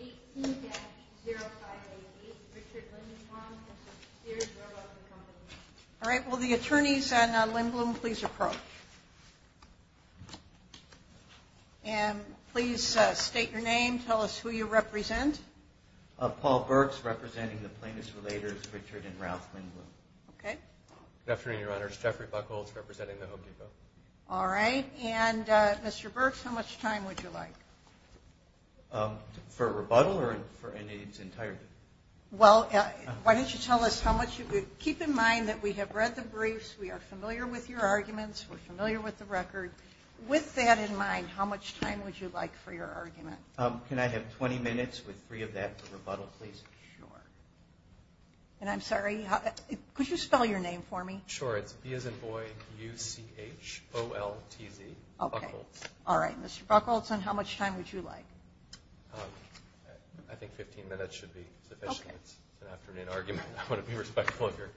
18-0588, Richard Lindblom v. Sears Roebuck & Co. All right, will the attorneys and Lindblom please approach. And please state your name, tell us who you represent. Paul Burks, representing the plaintiffs' relators, Richard and Ralph Lindblom. Good afternoon, Your Honors. Jeffrey Buchholz, representing the Hope Depot. All right, and Mr. Burks, how much time would you like? For a rebuttal or for anything entirely? Well, why don't you tell us how much you would? Keep in mind that we have read the briefs, we are familiar with your arguments, we're familiar with the record. With that in mind, how much time would you like for your argument? Can I have 20 minutes with three of that for rebuttal, please? Sure. And I'm sorry, could you spell your name for me? Sure, it's B as in boy, U-C-H-O-L-T-Z, Buchholz. All right, Mr. Buchholz, and how much time would you like? I think 15 minutes should be sufficient. It's an afternoon argument, I want to be respectful of your time.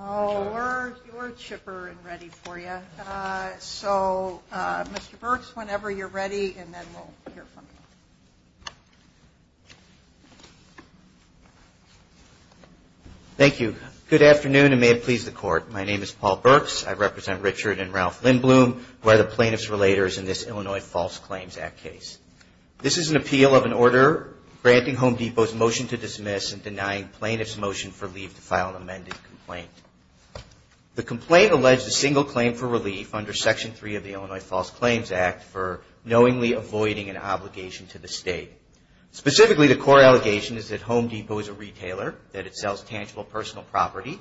Oh, you're a chipper and ready for you. So, Mr. Burks, whenever you're ready, and then we'll hear from you. Thank you. Good afternoon, and may it please the Court. My name is Paul Burks, I represent Richard and Ralph Lindblom, who are the plaintiffs' relators in this Illinois False Claims Act case. This is an appeal of an order granting Home Depot's motion to dismiss and denying plaintiffs' motion for leave to file an amended complaint. The complaint alleged a single claim for relief under Section 3 of the Illinois False Claims Act for knowingly avoiding an obligation to the state. Specifically, the core allegation is that Home Depot is a retailer, that it sells tangible personal property,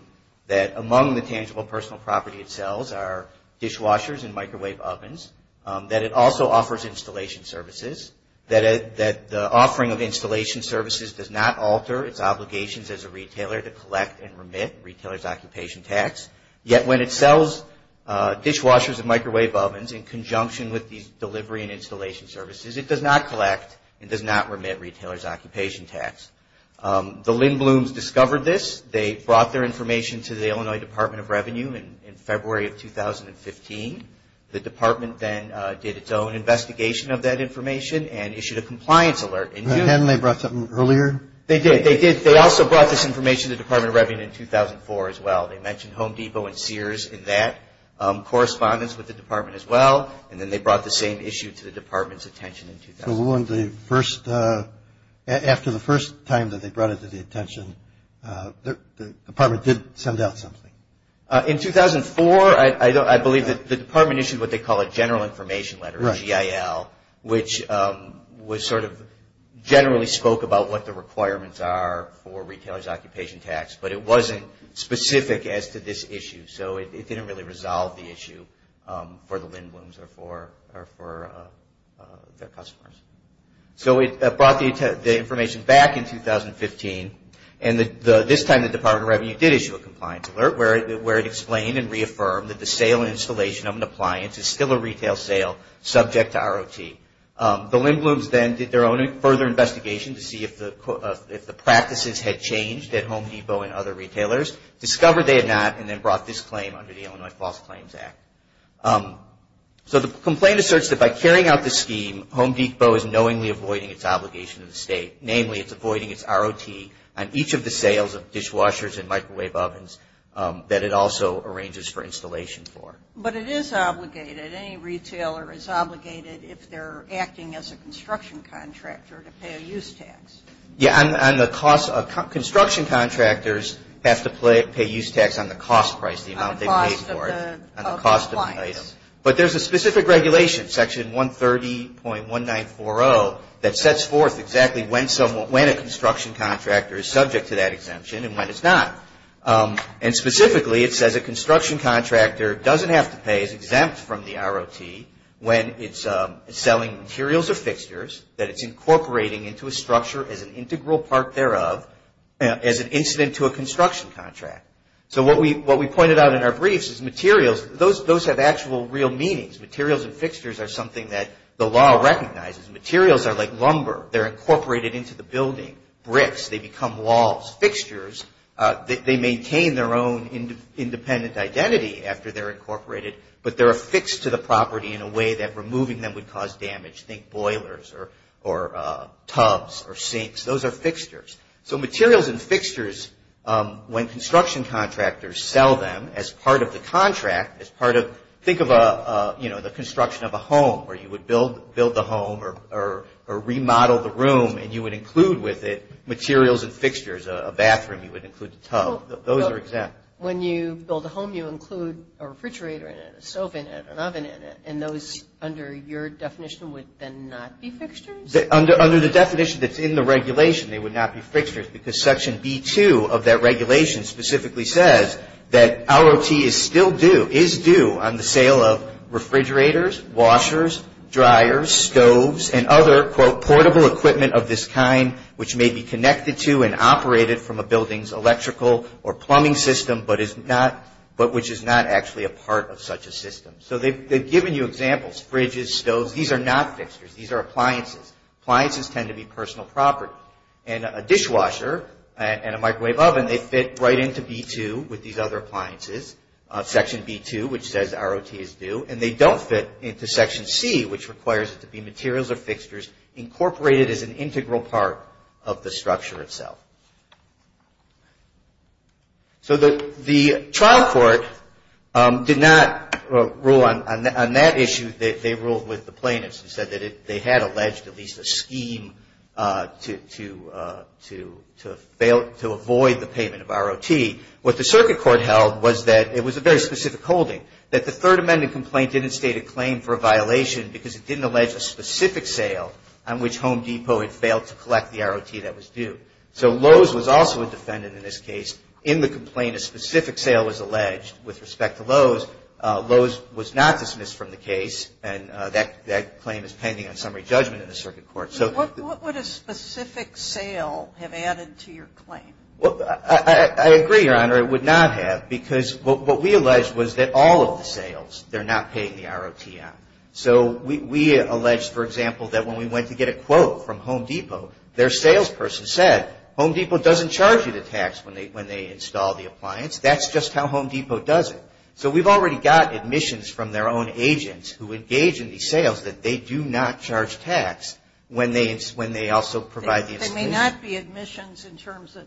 that among the tangible personal property it sells are dishwashers and microwave ovens, that it also offers installation services, that the offering of installation services does not alter its obligations as a retailer to collect and remit retailers' occupation tax. Yet, when it sells dishwashers and microwave ovens in conjunction with these delivery and installation services, it does not collect and does not remit retailers' occupation tax. The Lindbloms discovered this. They brought their information to the Illinois Department of Revenue in February of 2015. The department then did its own investigation of that information and issued a compliance alert in June. Hadn't they brought something earlier? They did, they did. They also brought this information to the Department of Revenue in 2004 as well. They mentioned Home Depot and Sears in that correspondence with the department as well, and then they brought the same issue to the department's attention in 2000. So, after the first time that they brought it to the attention, the department did send out something? In 2004, I believe the department issued what they call a general information letter, a GIL, which sort of generally spoke about what the requirements are for retailers' occupation tax, but it wasn't specific as to this issue. So, it didn't really resolve the issue for the Lindbloms or for their customers. So, it brought the information back in 2015, and this time the Department of Revenue did issue a compliance alert where it explained and reaffirmed that the sale and installation of an appliance is still a retail sale subject to ROT. The Lindbloms then did their own further investigation to see if the practices had changed at Home Depot and other retailers, discovered they had not, and then brought this claim under the Illinois False Claims Act. So, the complaint asserts that by carrying out this scheme, Home Depot is knowingly avoiding its obligation to the state. Namely, it's avoiding its ROT on each of the sales of dishwashers and microwave ovens that it also arranges for installation for. But it is obligated. Any retailer is obligated if they're acting as a construction contractor to pay a use tax. Construction contractors have to pay use tax on the cost price, the amount they pay for it, on the cost of the item. But there's a specific regulation, Section 130.1940, that sets forth exactly when a construction contractor is subject to that exemption and when it's not. And specifically, it says a construction contractor doesn't have to pay, that it's incorporating into a structure as an integral part thereof, as an incident to a construction contract. So, what we pointed out in our briefs is materials, those have actual real meanings. Materials and fixtures are something that the law recognizes. Materials are like lumber. They're incorporated into the building. Bricks, they become walls. Fixtures, they maintain their own independent identity after they're incorporated, but they're affixed to the property in a way that removing them would cause damage. Think boilers or tubs or sinks. Those are fixtures. So, materials and fixtures, when construction contractors sell them as part of the contract, think of the construction of a home where you would build the home or remodel the room and you would include with it materials and fixtures. A bathroom, you would include the tub. Those are exempt. When you build a home, you include a refrigerator in it, a stove in it, an oven in it, and those, under your definition, would then not be fixtures? Under the definition that's in the regulation, they would not be fixtures because Section B-2 of that regulation specifically says that ROT is still due, is due on the sale of refrigerators, washers, dryers, stoves, and other, quote, portable equipment of this kind which may be connected to and operated from a building's electrical or plumbing system, but which is not actually a part of such a system. So, they've given you examples, fridges, stoves. These are not fixtures. These are appliances. Appliances tend to be personal property. And a dishwasher and a microwave oven, they fit right into B-2 with these other appliances, Section B-2, which says ROT is due, and they don't fit into Section C, which requires it to be materials or fixtures incorporated as an integral part of the structure itself. So, the trial court did not rule on that issue. They ruled with the plaintiffs and said that they had alleged at least a scheme to avoid the payment of ROT. What the circuit court held was that it was a very specific holding, that the Third Amendment complaint didn't state a claim for a violation because it didn't allege a specific sale on which Home Depot had failed to collect the ROT that was due. So, Lowe's was also a defendant in this case. In the complaint, a specific sale was alleged with respect to Lowe's. Lowe's was not dismissed from the case, and that claim is pending on summary judgment in the circuit court. So, what would a specific sale have added to your claim? I agree, Your Honor. It would not have because what we alleged was that all of the sales, they're not paying the ROT on. So, we allege, for example, that when we went to get a quote from Home Depot, their salesperson said, Home Depot doesn't charge you the tax when they install the appliance. That's just how Home Depot does it. So, we've already got admissions from their own agents who engage in these sales that they do not charge tax when they also provide the installation. There may not be admissions in terms of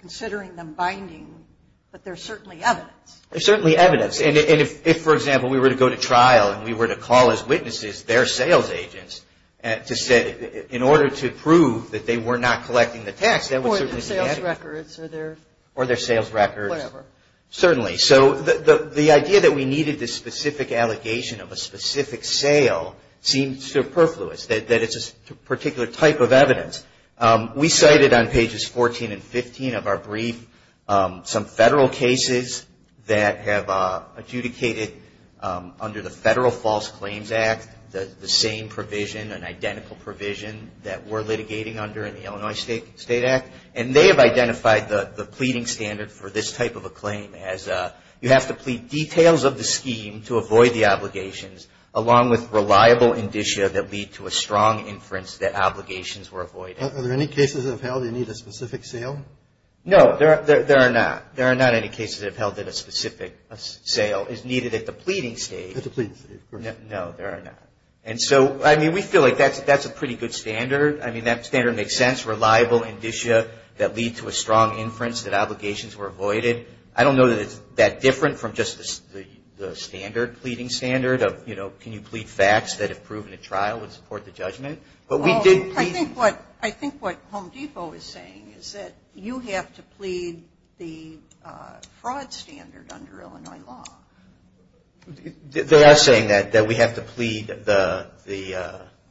considering them binding, but there's certainly evidence. There's certainly evidence. And if, for example, we were to go to trial and we were to call as witnesses their sales agents to say, in order to prove that they were not collecting the tax, that would certainly be added. Or their sales records. Or their sales records. Whatever. Certainly. So, the idea that we needed this specific allegation of a specific sale seems superfluous, that it's a particular type of evidence. We cited on pages 14 and 15 of our brief some federal cases that have adjudicated, under the Federal False Claims Act, the same provision, an identical provision, that we're litigating under in the Illinois State Act. And they have identified the pleading standard for this type of a claim as, you have to plead details of the scheme to avoid the obligations, along with reliable indicia that lead to a strong inference that obligations were avoided. Are there any cases that have held you need a specific sale? No, there are not. There are not any cases that have held that a specific sale is needed at the pleading stage. At the pleading stage. No, there are not. And so, I mean, we feel like that's a pretty good standard. I mean, that standard makes sense. Reliable indicia that lead to a strong inference that obligations were avoided. I don't know that it's that different from just the standard, pleading standard of, you know, can you plead facts that have proven a trial would support the judgment. But we did. I think what Home Depot is saying is that you have to plead the fraud standard under Illinois law. They are saying that, that we have to plead the,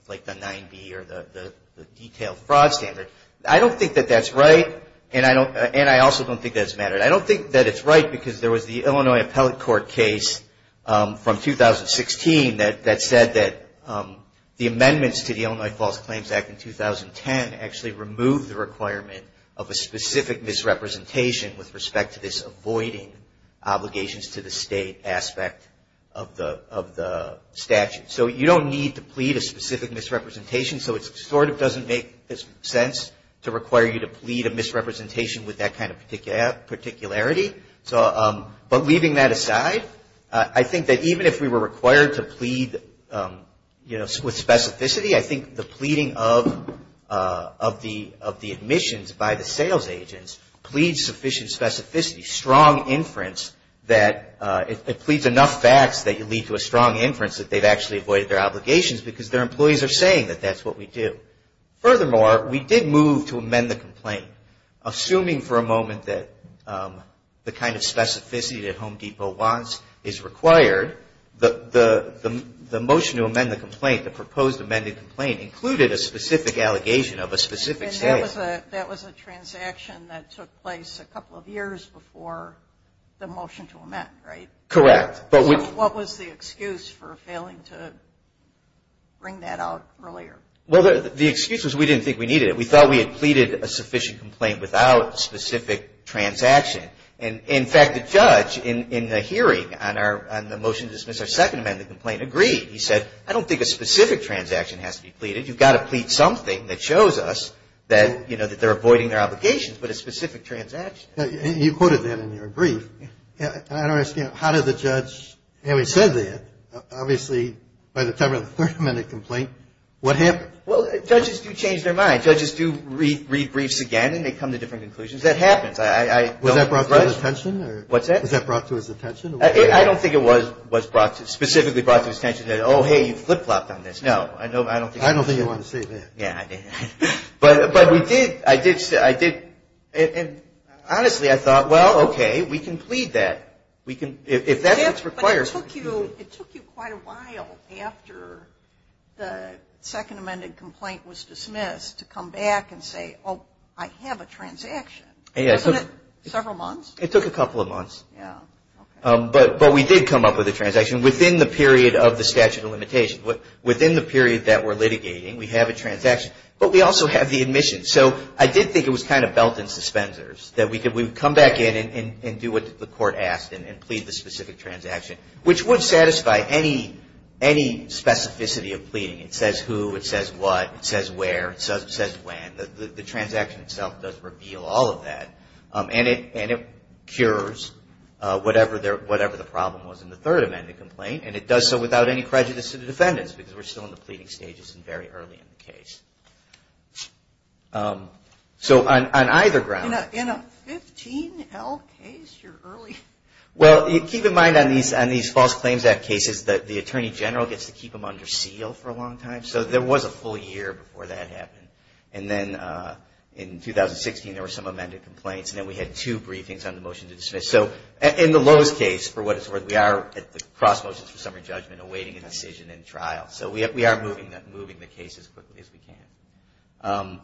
like the 9B or the detailed fraud standard. I don't think that that's right. And I also don't think that's mattered. I don't think that it's right because there was the Illinois appellate court case from 2016 that said that the amendments to the Illinois False Claims Act in 2010 actually removed the requirement of a specific misrepresentation with respect to this avoiding obligations to the state aspect of the statute. So, you don't need to plead a specific misrepresentation. So, it sort of doesn't make sense to require you to plead a misrepresentation with that kind of particularity. So, but leaving that aside, I think that even if we were required to plead, you know, with specificity, I think the pleading of the admissions by the sales agents pleads sufficient specificity, strong inference, that it pleads enough facts that you lead to a strong inference that they've actually avoided their obligations because their employees are saying that that's what we do. Furthermore, we did move to amend the complaint. Assuming for a moment that the kind of specificity that Home Depot wants is required, the motion to amend the complaint, the proposed amended complaint, included a specific allegation of a specific sale. And that was a transaction that took place a couple of years before the motion to amend, right? Correct. What was the excuse for failing to bring that out earlier? Well, the excuse was we didn't think we needed it. We thought we had pleaded a sufficient complaint without a specific transaction. And, in fact, the judge in the hearing on the motion to dismiss our second amended complaint agreed. He said, I don't think a specific transaction has to be pleaded. You've got to plead something that shows us that, you know, that they're avoiding their obligations, but a specific transaction. You quoted that in your brief. I don't understand. How did the judge say that? Obviously, by the time of the third amended complaint, what happened? Well, judges do change their mind. Judges do read briefs again, and they come to different conclusions. That happens. Was that brought to his attention? What's that? Was that brought to his attention? I don't think it was brought to, specifically brought to his attention that, oh, hey, you flip-flopped on this. I don't think he wanted to say that. Yeah, I didn't. But we did, I did, and honestly, I thought, well, okay, we can plead that. If that's what's required. But it took you quite a while after the second amended complaint was dismissed to come back and say, oh, I have a transaction. Wasn't it several months? It took a couple of months. Yeah, okay. But we did come up with a transaction within the period of the statute of limitations. Within the period that we're litigating, we have a transaction. But we also have the admission. So I did think it was kind of belt and suspenders, that we could come back in and do what the court asked and plead the specific transaction, which would satisfy any specificity of pleading. It says who. It says what. It says where. It says when. The transaction itself does reveal all of that, and it cures whatever the problem was in the third amended complaint, and it does so without any prejudice to the defendants, because we're still in the pleading stages and very early in the case. So on either ground. In a 15-L case, you're early. Well, keep in mind on these False Claims Act cases that the attorney general gets to keep them under seal for a long time. So there was a full year before that happened. And then in 2016, there were some amended complaints, and then we had two briefings on the motion to dismiss. So in the lowest case, for what it's worth, we are at the cross motions for summary judgment awaiting a decision in trial. So we are moving the case as quickly as we can.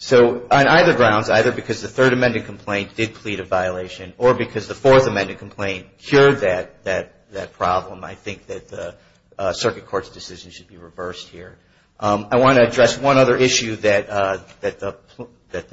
So on either grounds, either because the third amended complaint did plead a violation, or because the fourth amended complaint cured that problem, I think that the circuit court's decision should be reversed here. I want to address one other issue that the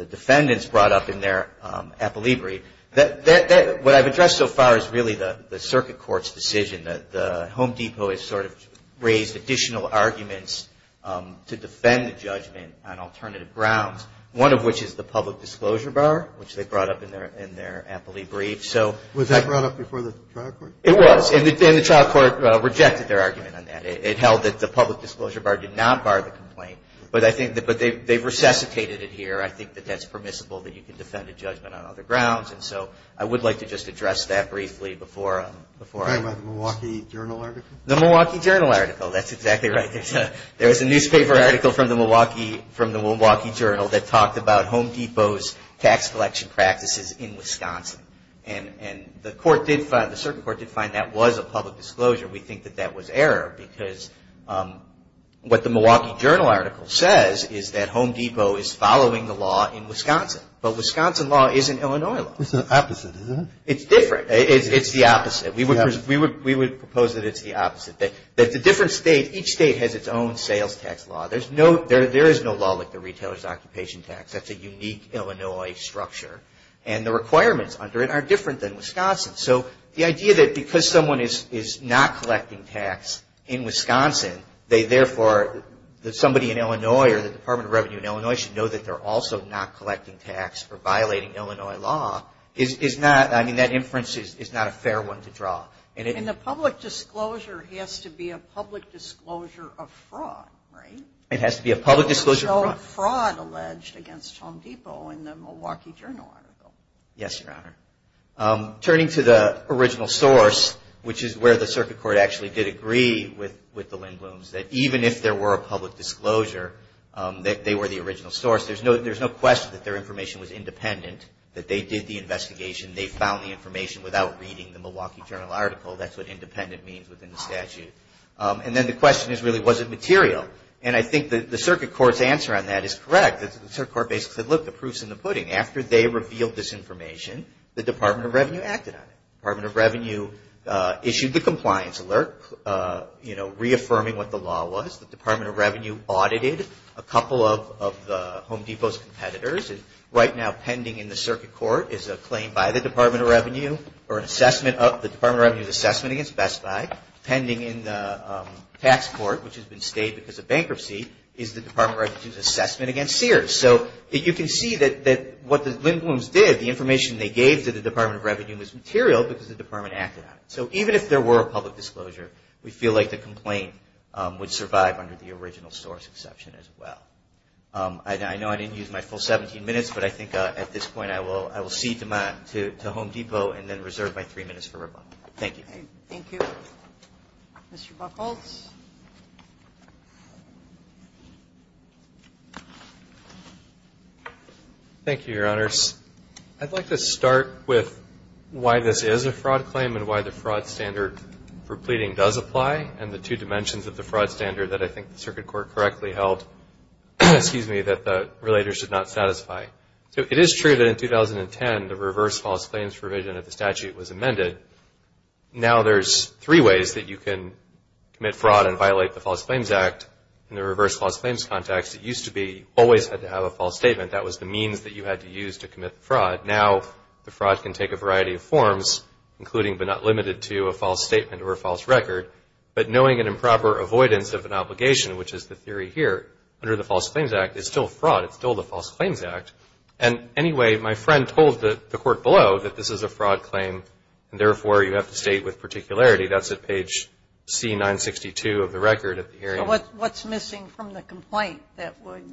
defendants brought up in their appellee brief. What I've addressed so far is really the circuit court's decision. The Home Depot has sort of raised additional arguments to defend the judgment on alternative grounds, one of which is the public disclosure bar, which they brought up in their appellee brief. Was that brought up before the trial court? It was, and the trial court rejected their argument on that. It held that the public disclosure bar did not bar the complaint, but they've resuscitated it here. I think that that's permissible, that you can defend a judgment on other grounds, and so I would like to just address that briefly before I move on. You're talking about the Milwaukee Journal article? The Milwaukee Journal article. That's exactly right. There was a newspaper article from the Milwaukee Journal that talked about Home Depot's tax collection practices in Wisconsin. And the court did find, the circuit court did find that was a public disclosure. We think that that was error because what the Milwaukee Journal article says is that Home Depot is following the law in Wisconsin, but Wisconsin law isn't Illinois law. It's the opposite, isn't it? It's different. It's the opposite. We would propose that it's the opposite, that it's a different state. Each state has its own sales tax law. There is no law like the retailer's occupation tax. That's a unique Illinois structure, and the requirements under it are different than Wisconsin. So the idea that because someone is not collecting tax in Wisconsin, they therefore, that somebody in Illinois or the Department of Revenue in Illinois should know that they're also not collecting tax or violating Illinois law is not, I mean, that inference is not a fair one to draw. And the public disclosure has to be a public disclosure of fraud, right? It has to be a public disclosure of fraud. There's no fraud alleged against Home Depot in the Milwaukee Journal article. Yes, Your Honor. Turning to the original source, which is where the circuit court actually did agree with the Lindbloms, that even if there were a public disclosure, that they were the original source, there's no question that their information was independent, that they did the investigation. They found the information without reading the Milwaukee Journal article. That's what independent means within the statute. And then the question is really, was it material? And I think the circuit court's answer on that is correct. The circuit court basically said, look, the proof's in the pudding. After they revealed this information, the Department of Revenue acted on it. The Department of Revenue issued the compliance alert, you know, reaffirming what the law was. The Department of Revenue audited a couple of the Home Depot's competitors. Right now, pending in the circuit court is a claim by the Department of Revenue or an assessment of the Department of Revenue's assessment against Best Buy. Pending in the tax court, which has been stayed because of bankruptcy, is the Department of Revenue's assessment against Sears. So you can see that what the Lindblums did, the information they gave to the Department of Revenue, was material because the Department acted on it. So even if there were a public disclosure, we feel like the complaint would survive under the original source exception as well. I know I didn't use my full 17 minutes, but I think at this point I will cede the mic to Home Depot and then reserve my three minutes for rebuttal. Thank you. Thank you. Mr. Buchholz. Thank you, Your Honors. I'd like to start with why this is a fraud claim and why the fraud standard for pleading does apply and the two dimensions of the fraud standard that I think the circuit court correctly held that the relator should not satisfy. So it is true that in 2010 the reverse false claims provision of the statute was amended. Now there's three ways that you can commit fraud and violate the False Claims Act. In the reverse false claims context, it used to be always had to have a false statement. That was the means that you had to use to commit fraud. Now the fraud can take a variety of forms, including but not limited to a false statement or a false record. But knowing an improper avoidance of an obligation, which is the theory here, under the False Claims Act is still fraud. It's still the False Claims Act. And anyway, my friend told the court below that this is a fraud claim, and therefore you have to state with particularity. That's at page C962 of the record of the hearing. So what's missing from the complaint that would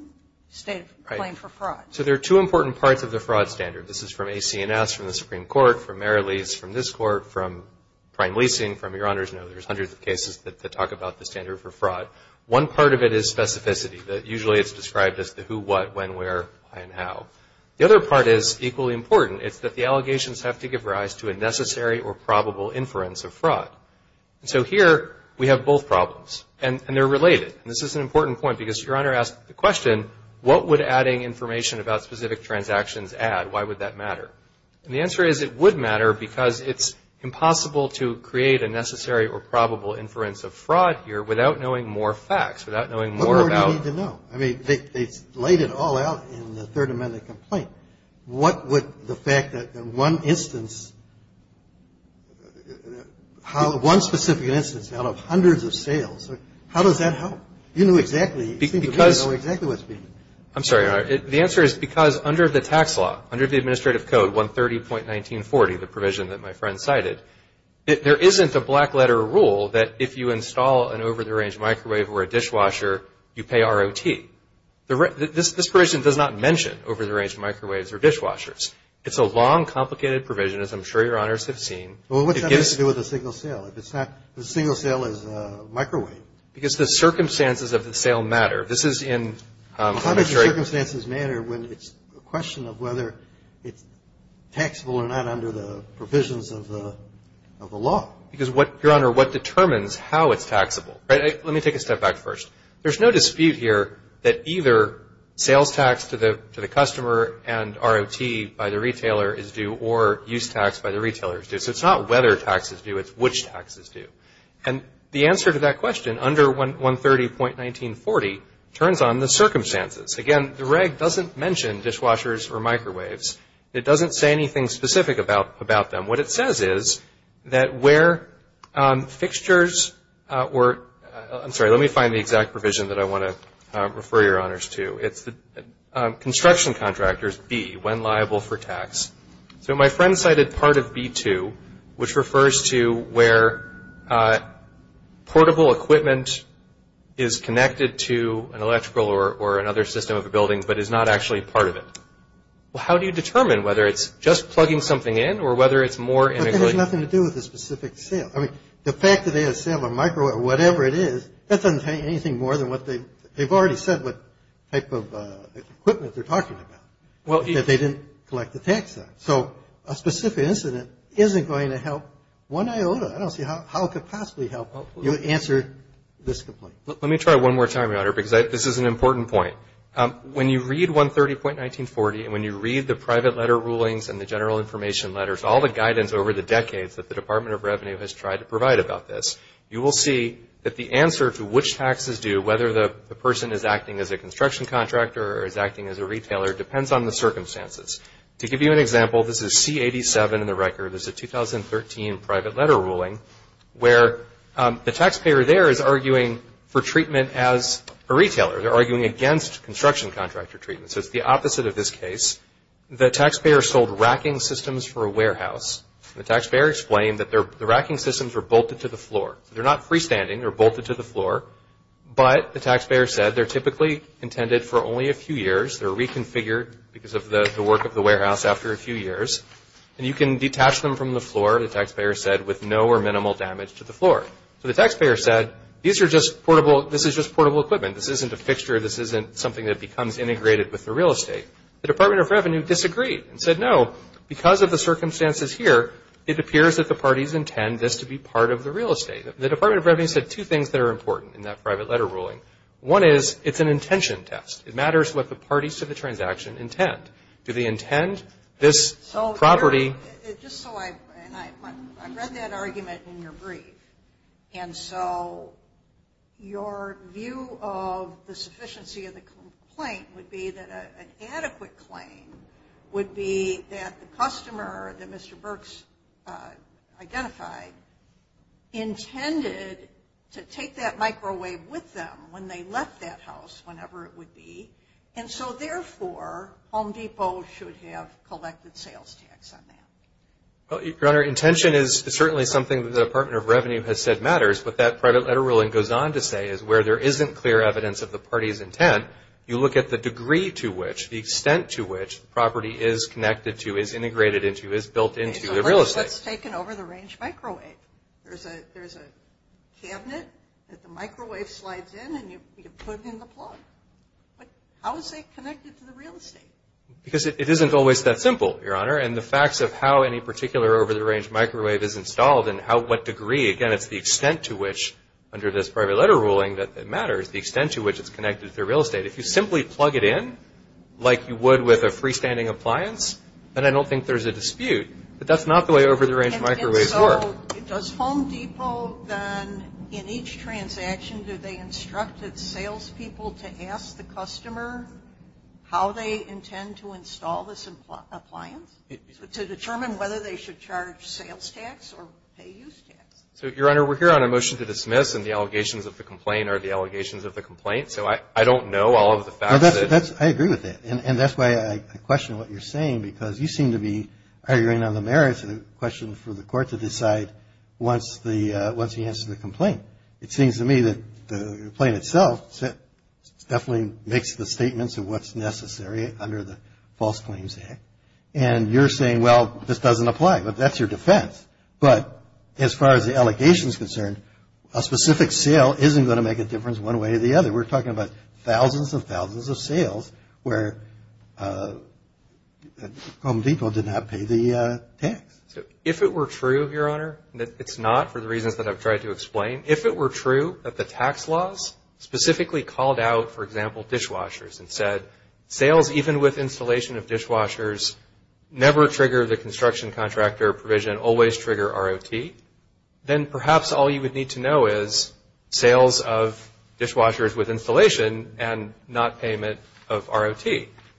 state a claim for fraud? Right. So there are two important parts of the fraud standard. This is from AC&S, from the Supreme Court, from Mary Lee's, from this Court, from Prime Leasing, from Your Honors. I know there's hundreds of cases that talk about the standard for fraud. One part of it is specificity. Usually it's described as the who, what, when, where, why, and how. The other part is equally important. It's that the allegations have to give rise to a necessary or probable inference of fraud. And so here we have both problems, and they're related. And this is an important point because Your Honor asked the question, what would adding information about specific transactions add? Why would that matter? And the answer is it would matter because it's impossible to create a necessary or probable inference of fraud here without knowing more facts, without knowing more about. What more do you need to know? I mean, they laid it all out in the Third Amendment complaint. What would the fact that one instance, one specific instance out of hundreds of sales, how does that help? You know exactly. You seem to know exactly what's being done. I'm sorry, Your Honor. The answer is because under the tax law, under the administrative code, 130.1940, the provision that my friend cited, there isn't a black letter rule that if you install an over-the-range microwave or a dishwasher, you pay ROT. This provision does not mention over-the-range microwaves or dishwashers. It's a long, complicated provision, as I'm sure Your Honors have seen. Well, what does that have to do with a single sale? If it's not a single sale as a microwave. Because the circumstances of the sale matter. How does the circumstances matter when it's a question of whether it's taxable or not under the provisions of the law? Because, Your Honor, what determines how it's taxable? Let me take a step back first. There's no dispute here that either sales tax to the customer and ROT by the retailer is due or use tax by the retailer is due. So it's not whether taxes are due, it's which taxes are due. And the answer to that question, under 130.1940, turns on the circumstances. Again, the reg doesn't mention dishwashers or microwaves. It doesn't say anything specific about them. What it says is that where fixtures were – I'm sorry, let me find the exact provision that I want to refer Your Honors to. It's the construction contractors, B, when liable for tax. So my friend cited part of B2, which refers to where portable equipment is connected to an electrical or another system of a building but is not actually part of it. Well, how do you determine whether it's just plugging something in or whether it's more – But that has nothing to do with the specific sale. I mean, the fact that they have a sale on microwave or whatever it is, that doesn't say anything more than what they – they've already said what type of equipment they're talking about. That they didn't collect the tax on. So a specific incident isn't going to help one iota. I don't see how it could possibly help you answer this complaint. Let me try one more time, Your Honor, because this is an important point. When you read 130.1940 and when you read the private letter rulings and the general information letters, all the guidance over the decades that the Department of Revenue has tried to provide about this, you will see that the answer to which taxes due, whether the person is acting as a construction contractor or is acting as a retailer, depends on the circumstances. To give you an example, this is C-87 in the record. This is a 2013 private letter ruling where the taxpayer there is arguing for treatment as a retailer. They're arguing against construction contractor treatment. So it's the opposite of this case. The taxpayer sold racking systems for a warehouse. The taxpayer explained that the racking systems were bolted to the floor. They're not freestanding. They're bolted to the floor. But the taxpayer said they're typically intended for only a few years. They're reconfigured because of the work of the warehouse after a few years. And you can detach them from the floor, the taxpayer said, with no or minimal damage to the floor. So the taxpayer said, these are just portable, this is just portable equipment. This isn't a fixture. This isn't something that becomes integrated with the real estate. The Department of Revenue disagreed and said, no, because of the circumstances here, it appears that the parties intend this to be part of the real estate. The Department of Revenue said two things that are important in that private letter ruling. One is, it's an intention test. It matters what the parties to the transaction intend. Do they intend this property? Just so I, and I read that argument in your brief. And so your view of the sufficiency of the complaint would be that an adequate claim would be that the customer that Mr. Burks identified intended to take that microwave with them when they left that house, whenever it would be. And so, therefore, Home Depot should have collected sales tax on that. Your Honor, intention is certainly something that the Department of Revenue has said matters. But that private letter ruling goes on to say is where there isn't clear evidence of the party's intent, you look at the degree to which, the extent to which the property is connected to, is integrated into, is built into the real estate. So let's take an over-the-range microwave. There's a cabinet that the microwave slides in and you put in the plug. But how is it connected to the real estate? Because it isn't always that simple, Your Honor. And the facts of how any particular over-the-range microwave is installed and what degree, again, it's the extent to which under this private letter ruling that matters, the extent to which it's connected to the real estate. If you simply plug it in, like you would with a freestanding appliance, then I don't think there's a dispute. But that's not the way over-the-range microwaves work. And so, does Home Depot then, in each transaction, do they instruct its sales people to ask the customer how they intend to install this appliance? To determine whether they should charge sales tax or pay use tax? So, Your Honor, we're here on a motion to dismiss and the allegations of the complaint are the allegations of the complaint. So I don't know all of the facts. I agree with that. And that's why I question what you're saying because you seem to be arguing on the merits of the question for the court to decide once he answers the complaint. It seems to me that the complaint itself definitely makes the statements of what's necessary under the False Claims Act. And you're saying, well, this doesn't apply. But that's your defense. But as far as the allegation is concerned, a specific sale isn't going to make a difference one way or the other. We're talking about thousands and thousands of sales where Home Depot did not pay the tax. If it were true, Your Honor, it's not for the reasons that I've tried to explain. If it were true that the tax laws specifically called out, for example, dishwashers and said, sales even with installation of dishwashers never trigger the construction contractor provision, always trigger ROT, then perhaps all you would need to know is sales of dishwashers with installation and not payment of ROT.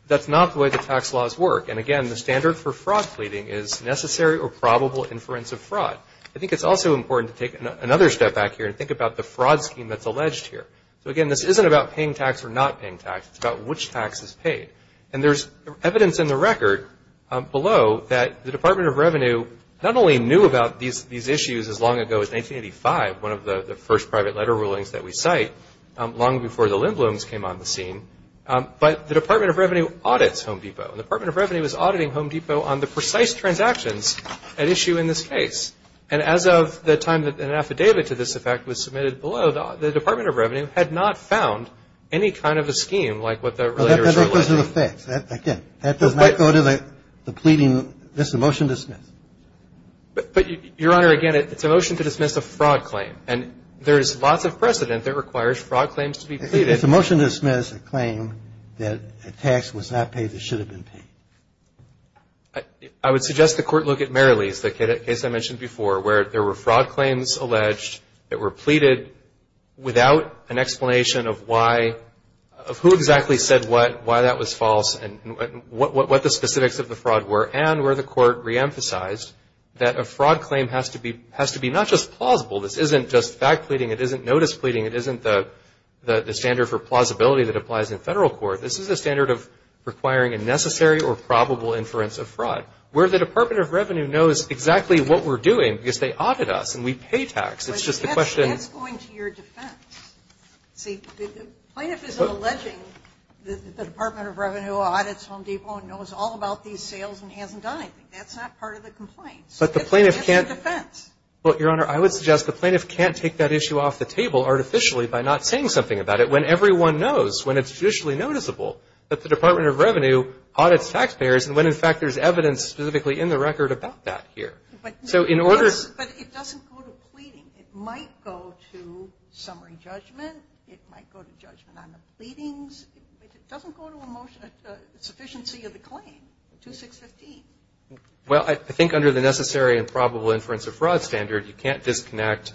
That's not the way the tax laws work. And, again, the standard for fraud pleading is necessary or probable inference of fraud. I think it's also important to take another step back here and think about the fraud scheme that's alleged here. So, again, this isn't about paying tax or not paying tax. It's about which tax is paid. And there's evidence in the record below that the Department of Revenue not only knew about these issues as long ago as 1985, one of the first private letter rulings that we cite, long before the Lindblums came on the scene, but the Department of Revenue audits Home Depot. The Department of Revenue is auditing Home Depot on the precise transactions at issue in this case. And as of the time that an affidavit to this effect was submitted below, the Department of Revenue had not found any kind of a scheme like what the relators are alleging. Well, that depends on the facts. Again, that does not go to the pleading. That's a motion to dismiss. But, Your Honor, again, it's a motion to dismiss a fraud claim. And there is lots of precedent that requires fraud claims to be pleaded. It's a motion to dismiss a claim that a tax was not paid that should have been paid. I would suggest the Court look at Merrilee's, the case I mentioned before, where there were fraud claims alleged that were pleaded without an explanation of why, of who exactly said what, why that was false, and what the specifics of the fraud were, and where the Court reemphasized that a fraud claim has to be not just plausible. This isn't just fact pleading. It isn't notice pleading. It isn't the standard for plausibility that applies in federal court. This is a case where the Department of Revenue knows exactly what we're doing because they audit us and we pay tax. It's just a question of the claimant's claim to the state. And that's going to your defense. See, the plaintiff is alleging that the Department of Revenue audits Home Depot and knows all about these sales and hasn't done anything. That's not part of the complaint. That's a defense. But, Your Honor, I would suggest the plaintiff can't take that issue off the table artificially by not saying something about it when everyone knows, when it's judicially noticeable that the Department of Revenue audits taxpayers, and when in fact there's evidence specifically in the record about that here. But it doesn't go to pleading. It might go to summary judgment. It might go to judgment on the pleadings. It doesn't go to a motion, a sufficiency of the claim, 2615. Well, I think under the necessary and probable inference of fraud standard, you can't disconnect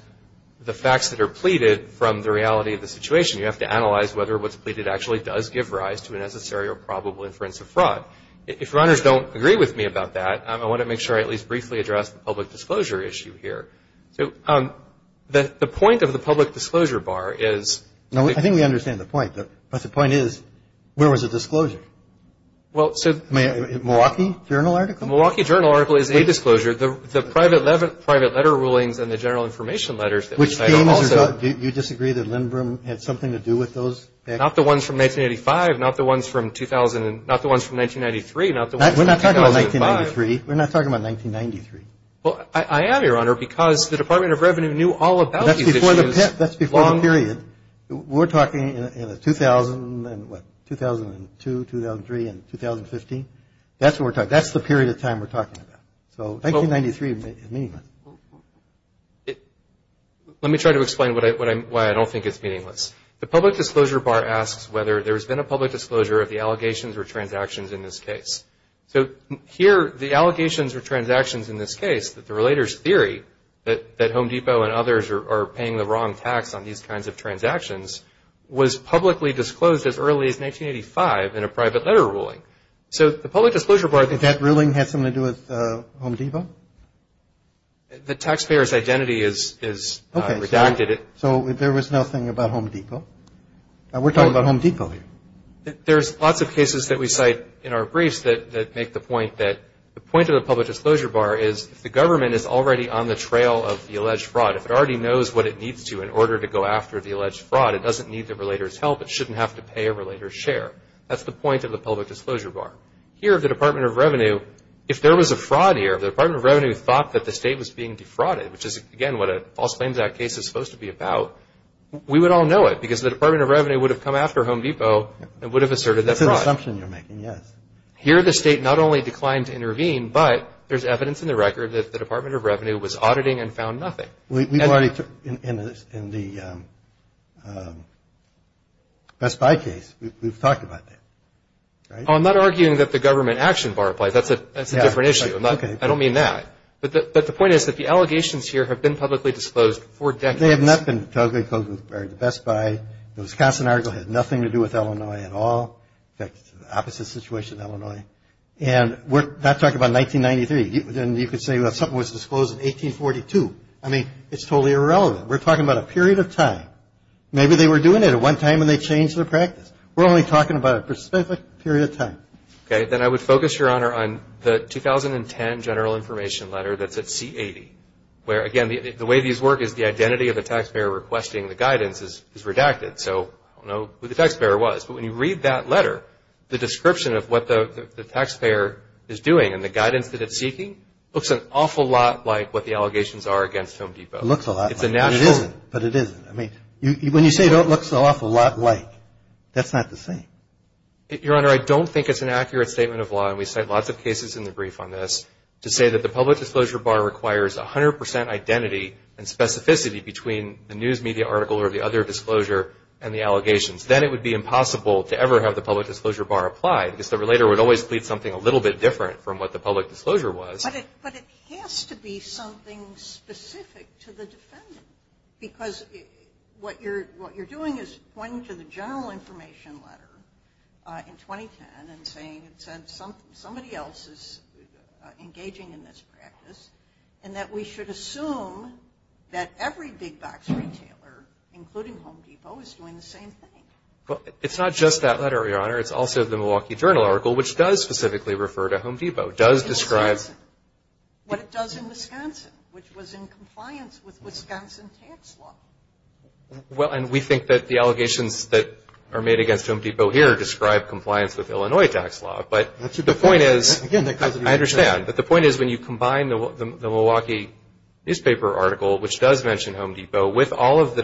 the facts that are pleaded from the reality of the situation. You have to analyze whether what's pleaded actually does give rise to a necessary or probable inference of fraud. If Your Honors don't agree with me about that, I want to make sure I at least briefly address the public disclosure issue here. The point of the public disclosure bar is. No, I think we understand the point. But the point is, where was the disclosure? Well, so. Milwaukee Journal article? Milwaukee Journal article is a disclosure. The private letter rulings and the general information letters that we cited also. Do you disagree that Lindbrum had something to do with those? Not the ones from 1985. Not the ones from 2000. Not the ones from 1993. Not the ones from 2005. We're not talking about 1993. We're not talking about 1993. Well, I am, Your Honor, because the Department of Revenue knew all about these issues. That's before the period. We're talking in the 2000 and what, 2002, 2003, and 2015. That's what we're talking about. That's the period of time we're talking about. So 1993 is meaningless. Let me try to explain why I don't think it's meaningless. The public disclosure bar asks whether there's been a public disclosure of the allegations or transactions in this case. So here, the allegations or transactions in this case, the relator's theory that Home Depot and others are paying the wrong tax on these kinds of transactions, was publicly disclosed as early as 1985 in a private letter ruling. So the public disclosure bar. Did that ruling have something to do with Home Depot? The taxpayer's identity is redacted. So there was nothing about Home Depot? We're talking about Home Depot here. There's lots of cases that we cite in our briefs that make the point that the point of the public disclosure bar is if the government is already on the trail of the alleged fraud, if it already knows what it needs to in order to go after the alleged fraud, it doesn't need the relator's help. It shouldn't have to pay a relator's share. That's the point of the public disclosure bar. Here, the Department of Revenue, if there was a fraud here, the Department of Revenue thought that the state was being defrauded, which is, again, what a False Claims Act case is supposed to be about. We would all know it because the Department of Revenue would have come after Home Depot and would have asserted that fraud. That's an assumption you're making, yes. Here, the state not only declined to intervene, but there's evidence in the record that the Department of Revenue was auditing and found nothing. We've already, in the Best Buy case, we've talked about that, right? I'm not arguing that the government action bar applies. That's a different issue. I don't mean that. But the point is that the allegations here have been publicly disclosed for decades. They have not been publicly disclosed. The Best Buy, the Wisconsin article had nothing to do with Illinois at all. In fact, it's the opposite situation, Illinois. And we're not talking about 1993. You could say something was disclosed in 1842. I mean, it's totally irrelevant. We're talking about a period of time. Maybe they were doing it at one time and they changed their practice. We're only talking about a specific period of time. Okay. Then I would focus, Your Honor, on the 2010 general information letter that's at C-80, where, again, the way these work is the identity of the taxpayer requesting the guidance is redacted. So I don't know who the taxpayer was. But when you read that letter, the description of what the taxpayer is doing and the guidance that it's seeking looks an awful lot like what the allegations are against Film Depot. It looks a lot like it. But it isn't. But it isn't. I mean, when you say it looks an awful lot like, that's not the same. Your Honor, I don't think it's an accurate statement of law, and we cite lots of cases in the brief on this, to say that the public disclosure bar requires 100 percent identity and specificity between the news media article or the other disclosure and the allegations. Then it would be impossible to ever have the public disclosure bar applied. Because the relator would always plead something a little bit different from what the public disclosure was. But it has to be something specific to the defendant. Because what you're doing is pointing to the general information letter in 2010 and saying somebody else is engaging in this practice, and that we should assume that every big box retailer, including Home Depot, is doing the same thing. It's not just that letter, Your Honor. It's also the Milwaukee Journal article, which does specifically refer to Home Depot. It does describe what it does in Wisconsin, which was in compliance with Wisconsin tax law. Well, and we think that the allegations that are made against Home Depot here describe compliance with Illinois tax law. But the point is, I understand, but the point is when you combine the Milwaukee newspaper article, which does mention Home Depot, with all of the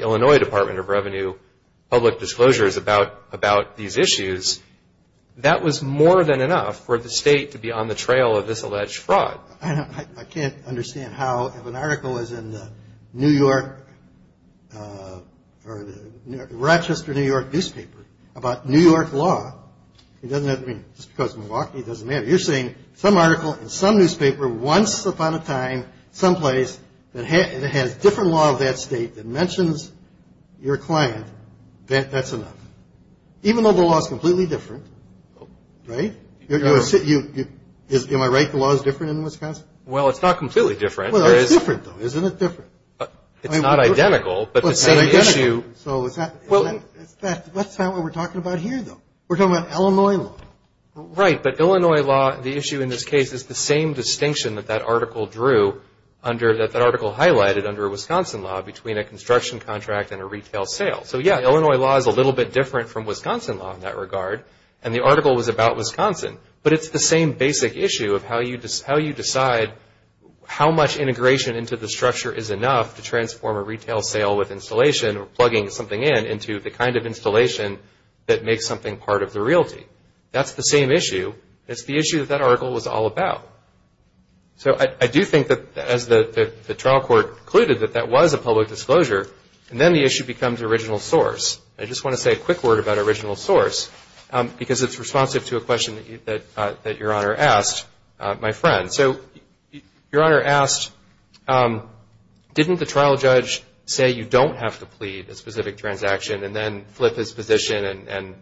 Illinois Department of Revenue public disclosures about these issues, that was more than enough for the state to be on the trail of this alleged fraud. Now, I can't understand how, if an article is in the New York, or the Rochester, New York newspaper, about New York law, it doesn't have to be just because Milwaukee, it doesn't matter. You're saying some article in some newspaper, once upon a time, someplace, that has different law of that state that mentions your client, that's enough. Even though the law is completely different, right? Am I right? The law is different in Wisconsin? Well, it's not completely different. Well, it's different, though. Isn't it different? It's not identical, but the same issue. Well, it's not what we're talking about here, though. We're talking about Illinois law. Right, but Illinois law, the issue in this case, is the same distinction that that article highlighted under Wisconsin law between a construction contract and a retail sale. So, yeah, Illinois law is a little bit different from Wisconsin law in that regard, and the article was about Wisconsin, but it's the same basic issue of how you decide how much integration into the structure is enough to transform a retail sale with installation or plugging something in into the kind of installation that makes something part of the realty. That's the same issue. It's the issue that that article was all about. So I do think that, as the trial court concluded, that that was a public disclosure, and then the issue becomes original source. I just want to say a quick word about original source, because it's responsive to a question that Your Honor asked my friend. So Your Honor asked, didn't the trial judge say you don't have to plead a specific transaction and then flip his position, and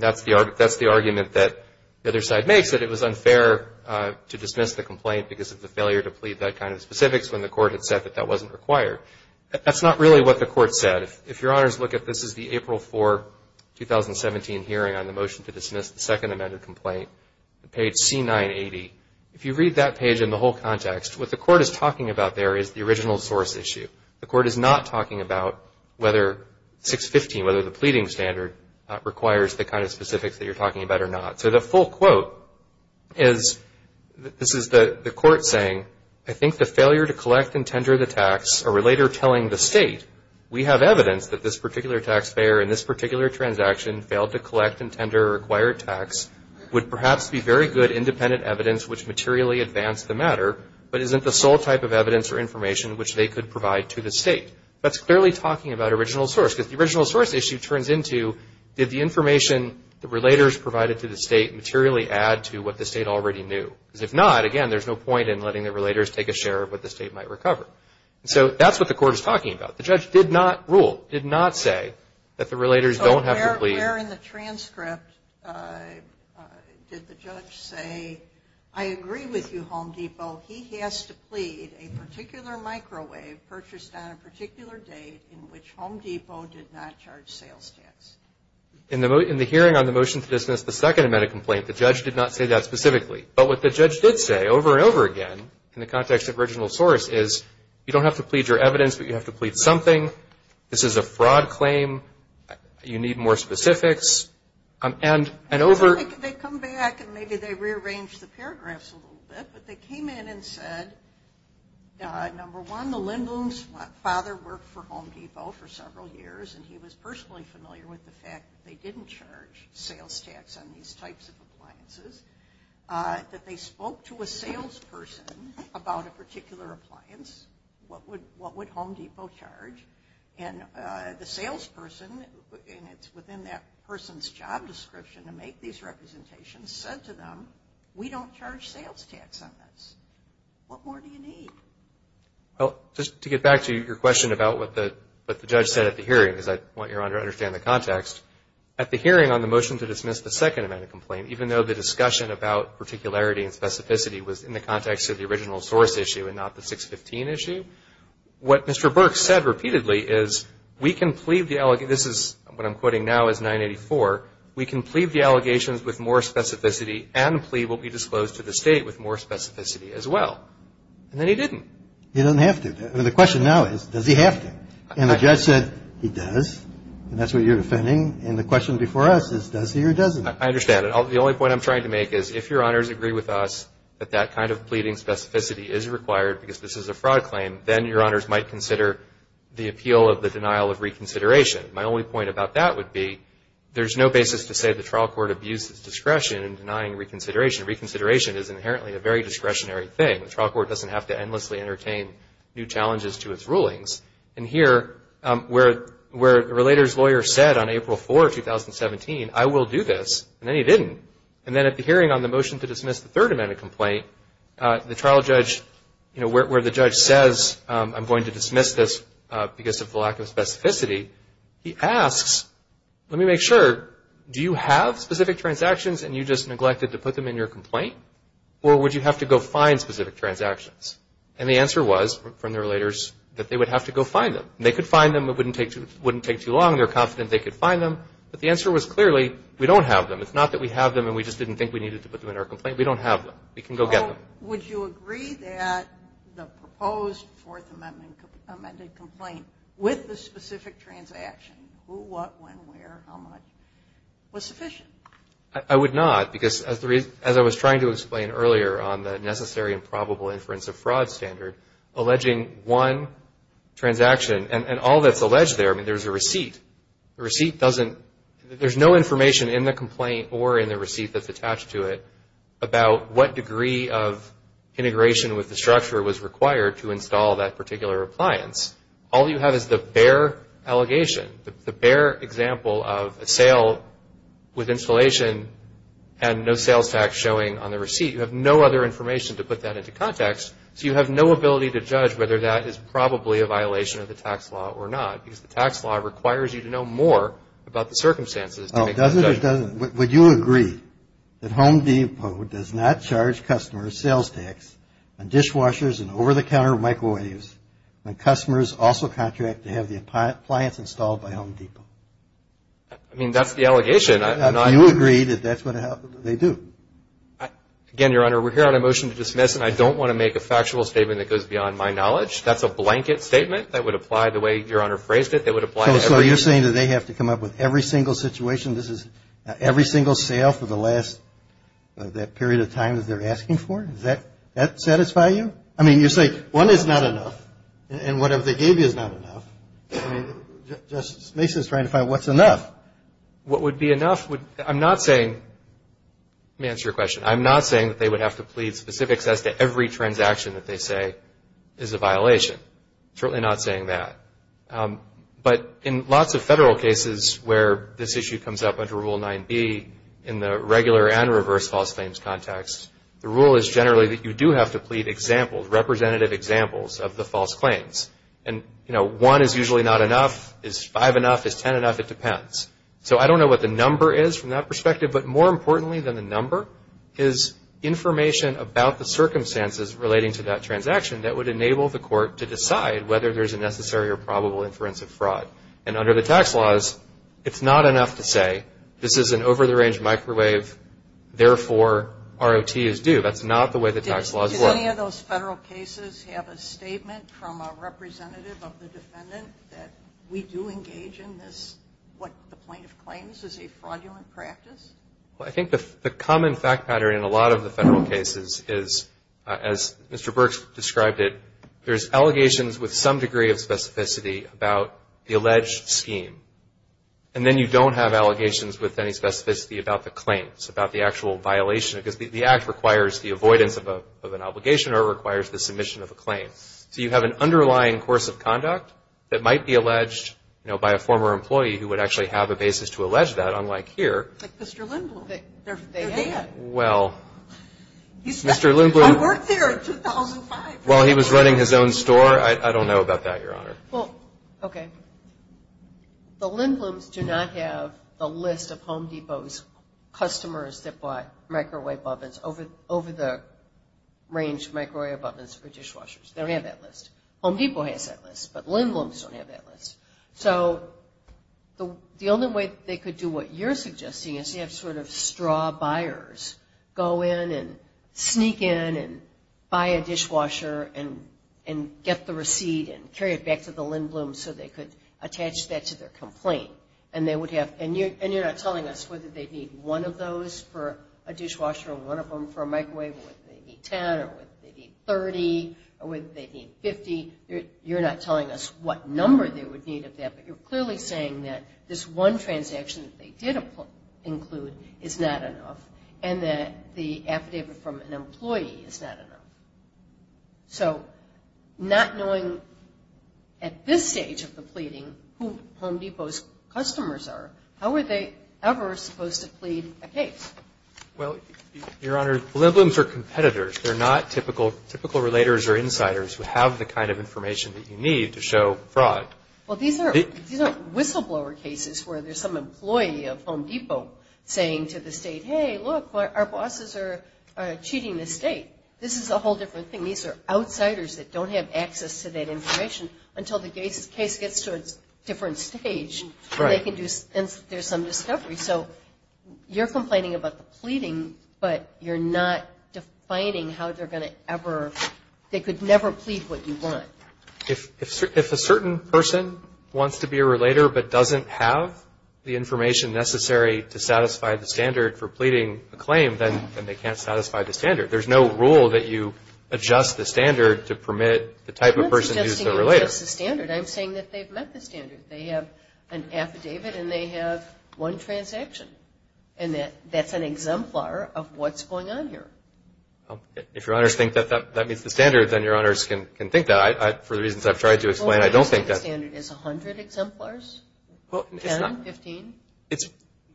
that's the argument that the other side makes, that it was unfair to dismiss the complaint because of the failure to plead that kind of specifics when the court had said that that wasn't required. That's not really what the court said. If Your Honors look at this, this is the April 4, 2017 hearing on the motion to dismiss the second amended complaint, page C980. If you read that page in the whole context, what the court is talking about there is the original source issue. The court is not talking about whether 615, whether the pleading standard requires the kind of specifics that you're talking about or not. So the full quote is, this is the court saying, I think the failure to collect and tender the tax, a relator telling the state, we have evidence that this particular taxpayer in this particular transaction failed to collect and tender a required tax, would perhaps be very good independent evidence which materially advanced the matter, but isn't the sole type of evidence or information which they could provide to the state. That's clearly talking about original source, because the original source issue turns into, did the information the relators provided to the state materially add to what the state already knew? Because if not, again, there's no point in letting the relators take a share of what the state might recover. So that's what the court is talking about. The judge did not rule, did not say that the relators don't have to plead. So where in the transcript did the judge say, I agree with you, Home Depot, he has to plead a particular microwave purchased on a particular date in which Home Depot did not charge sales tax? In the hearing on the motion to dismiss the second amendment complaint, the judge did not say that specifically. But what the judge did say over and over again, in the context of original source, is you don't have to plead your evidence, but you have to plead something. This is a fraud claim. You need more specifics. And over- They come back and maybe they rearrange the paragraphs a little bit, but they came in and said, number one, the Lindblom's father worked for Home Depot for several years, and he was personally familiar with the fact that they didn't charge sales tax on these types of appliances, that they spoke to a salesperson about a particular appliance, what would Home Depot charge, and the salesperson, and it's within that person's job description to make these representations, said to them, we don't charge sales tax on this. What more do you need? Well, just to get back to your question about what the judge said at the hearing, because I want your Honor to understand the context, at the hearing on the motion to dismiss the second amendment complaint, even though the discussion about particularity and specificity was in the context of the original source issue and not the 615 issue, what Mr. Burke said repeatedly is we can plead the- This is what I'm quoting now is 984. We can plead the allegations with more specificity and plead what we disclosed to the State with more specificity as well. And then he didn't. He doesn't have to. The question now is, does he have to? And the judge said, he does, and that's what you're defending. And the question before us is, does he or doesn't he? I understand. The only point I'm trying to make is if your Honors agree with us that that kind of pleading specificity is required because this is a fraud claim, then your Honors might consider the appeal of the denial of reconsideration. My only point about that would be there's no basis to say the trial court abuses discretion in denying reconsideration. Reconsideration is inherently a very discretionary thing. The trial court doesn't have to endlessly entertain new challenges to its rulings. And here, where the relator's lawyer said on April 4, 2017, I will do this, and then he didn't. And then at the hearing on the motion to dismiss the third amendment complaint, the trial judge, where the judge says I'm going to dismiss this because of the lack of specificity, he asks, let me make sure, do you have specific transactions and you just neglected to put them in your complaint? Or would you have to go find specific transactions? And the answer was from the relators that they would have to go find them. They could find them. It wouldn't take too long. They're confident they could find them. But the answer was clearly we don't have them. It's not that we have them and we just didn't think we needed to put them in our complaint. We don't have them. We can go get them. Would you agree that the proposed fourth amendment complaint with the specific transaction, who, what, when, where, how much, was sufficient? I would not. Because as I was trying to explain earlier on the necessary and probable inference of fraud standard, alleging one transaction, and all that's alleged there, I mean, there's a receipt. The receipt doesn't, there's no information in the complaint or in the receipt that's attached to it about what degree of integration with the structure was required to install that particular appliance. All you have is the bare allegation, the bare example of a sale with installation and no sales tax showing on the receipt. You have no other information to put that into context. So you have no ability to judge whether that is probably a violation of the tax law or not. Because the tax law requires you to know more about the circumstances. Oh, does it or doesn't it? Would you agree that Home Depot does not charge customers sales tax on dishwashers and over-the-counter microwaves when customers also contract to have the appliance installed by Home Depot? I mean, that's the allegation. Do you agree that that's what they do? Again, Your Honor, we're here on a motion to dismiss, and I don't want to make a factual statement that goes beyond my knowledge. That's a blanket statement that would apply the way Your Honor phrased it. So you're saying that they have to come up with every single situation, every single sale for the last period of time that they're asking for? Does that satisfy you? I mean, you say one is not enough, and whatever they gave you is not enough. I mean, Justice Mason is trying to find what's enough. What would be enough? I'm not saying, let me answer your question, I'm not saying that they would have to plead specifics as to every transaction that they say is a violation. Certainly not saying that. But in lots of federal cases where this issue comes up under Rule 9b, in the regular and reverse false claims context, the rule is generally that you do have to plead examples, representative examples of the false claims. And, you know, one is usually not enough. Is five enough? Is ten enough? It depends. So I don't know what the number is from that perspective, but more importantly than the number is information about the circumstances relating to that transaction that would enable the court to decide whether there's a necessary or probable inference of fraud. And under the tax laws, it's not enough to say this is an over-the-range microwave, therefore, ROT is due. That's not the way the tax laws work. Do any of those federal cases have a statement from a representative of the defendant that we do engage in this, what the plaintiff claims is a fraudulent practice? Well, I think the common fact pattern in a lot of the federal cases is, as Mr. Birx described it, there's allegations with some degree of specificity about the alleged scheme. And then you don't have allegations with any specificity about the claim. It's about the actual violation, because the act requires the avoidance of an obligation or it requires the submission of a claim. So you have an underlying course of conduct that might be alleged, you know, by a former employee who would actually have a basis to allege that, unlike here. Like Mr. Lindblum. Well, Mr. Lindblum. I worked there in 2005. I don't know about that, Your Honor. Well, okay. The Lindblums do not have the list of Home Depot's customers that bought microwave ovens, over-the-range microwave ovens for dishwashers. They don't have that list. Home Depot has that list, but Lindblums don't have that list. So the only way they could do what you're suggesting is to have sort of straw buyers go in and sneak in and buy a dishwasher and get the receipt and carry it back to the Lindblum so they could attach that to their complaint. And they would have – and you're not telling us whether they'd need one of those for a dishwasher or one of them for a microwave or whether they'd need ten or whether they'd need 30 or whether they'd need 50. You're not telling us what number they would need of that, but you're clearly saying that this one transaction that they did include is not enough and that the affidavit from an employee is not enough. So not knowing at this stage of the pleading who Home Depot's customers are, how were they ever supposed to plead a case? Well, Your Honor, Lindblums are competitors. They're not typical relators or insiders who have the kind of information that you need to show fraud. Well, these aren't whistleblower cases where there's some employee of Home Depot saying to the state, hey, look, our bosses are cheating the state. This is a whole different thing. These are outsiders that don't have access to that information until the case gets to a different stage and there's some discovery. So you're complaining about the pleading, but you're not defining how they're going to ever – they could never plead what you want. If a certain person wants to be a relator but doesn't have the information necessary to satisfy the standard for pleading a claim, then they can't satisfy the standard. There's no rule that you adjust the standard to permit the type of person who's the relator. I'm not suggesting you adjust the standard. I'm saying that they've met the standard. They have an affidavit and they have one transaction, and that's an exemplar of what's going on here. If Your Honors think that that meets the standard, then Your Honors can think that. For the reasons I've tried to explain, I don't think that's – 10, 15?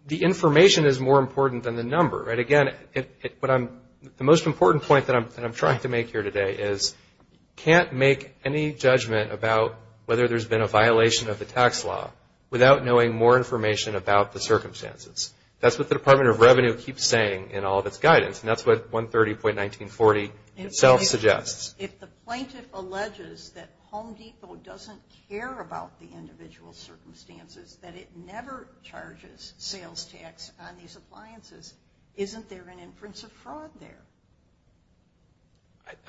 The information is more important than the number. Again, the most important point that I'm trying to make here today is you can't make any judgment about whether there's been a violation of the tax law without knowing more information about the circumstances. That's what the Department of Revenue keeps saying in all of its guidance, and that's what 130.1940 itself suggests. If the plaintiff alleges that Home Depot doesn't care about the individual circumstances, that it never charges sales tax on these appliances, isn't there an inference of fraud there?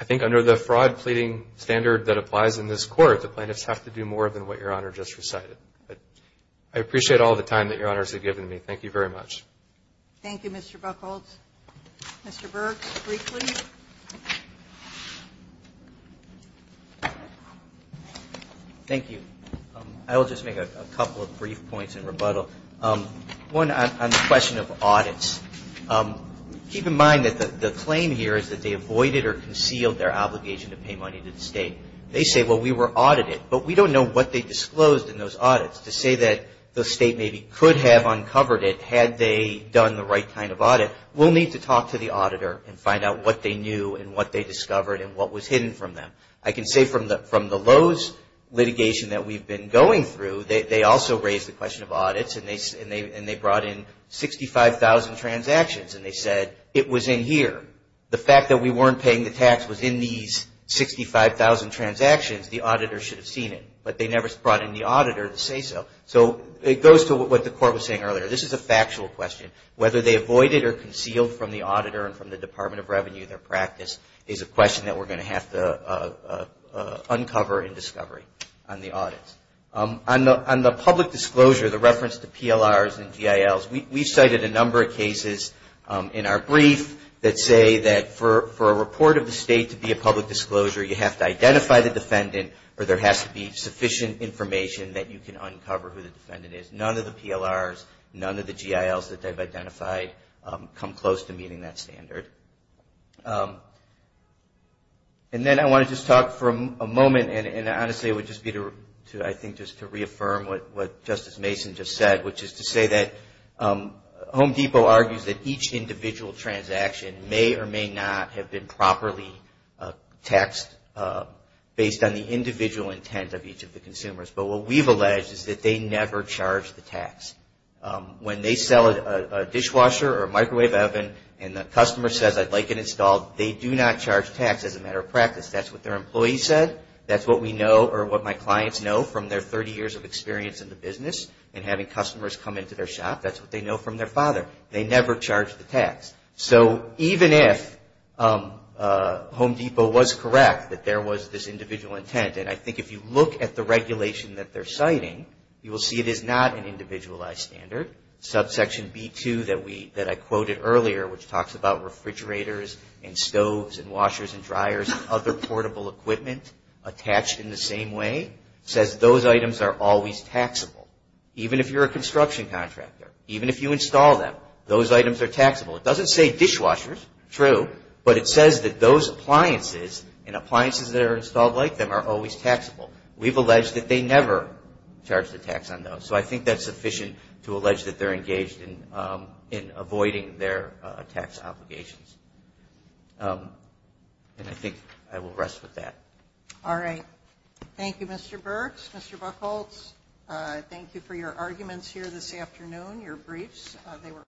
I think under the fraud pleading standard that applies in this court, the plaintiffs have to do more than what Your Honor just recited. I appreciate all the time that Your Honors have given me. Thank you very much. Thank you, Mr. Buchholz. Mr. Berg, briefly. Thank you. I will just make a couple of brief points in rebuttal. One on the question of audits. Keep in mind that the claim here is that they avoided or concealed their obligation to pay money to the State. They say, well, we were audited, but we don't know what they disclosed in those audits. To say that the State maybe could have uncovered it had they done the right kind of audit we'll need to talk to the auditor and find out what they knew and what they discovered and what was hidden from them. I can say from the Lowe's litigation that we've been going through, they also raised the question of audits and they brought in 65,000 transactions and they said it was in here. The fact that we weren't paying the tax was in these 65,000 transactions, the auditor should have seen it. But they never brought in the auditor to say so. So it goes to what the court was saying earlier. This is a factual question. Whether they avoided or concealed from the auditor and from the Department of Revenue their practice is a question that we're going to have to uncover and discover on the audits. On the public disclosure, the reference to PLRs and GILs, we cited a number of cases in our brief that say that for a report of the State to be a public disclosure you have to identify the defendant or there has to be sufficient information that you can uncover who the defendant is. None of the PLRs, none of the GILs that they've identified come close to meeting that standard. And then I want to just talk for a moment and honestly it would just be to, I think, just to reaffirm what Justice Mason just said, which is to say that Home Depot argues that each individual transaction may or may not have been properly taxed based on the individual intent of each of the consumers. But what we've alleged is that they never charged the tax. When they sell a dishwasher or a microwave oven and the customer says, I'd like it installed, they do not charge tax as a matter of practice. That's what their employee said. That's what we know or what my clients know from their 30 years of experience in the business and having customers come into their shop. That's what they know from their father. They never charged the tax. So even if Home Depot was correct that there was this individual intent, and I think if you look at the regulation that they're citing, you will see it is not an individualized standard. Subsection B2 that I quoted earlier, which talks about refrigerators and stoves and washers and dryers and other portable equipment attached in the same way, says those items are always taxable. Even if you're a construction contractor, even if you install them, those items are taxable. It doesn't say dishwashers, true, but it says that those appliances and appliances that are installed like them are always taxable. We've alleged that they never charge the tax on those. So I think that's sufficient to allege that they're engaged in avoiding their tax obligations. And I think I will rest with that. All right. Thank you, Mr. Burks, Mr. Buchholz. Thank you for your arguments here this afternoon, your briefs.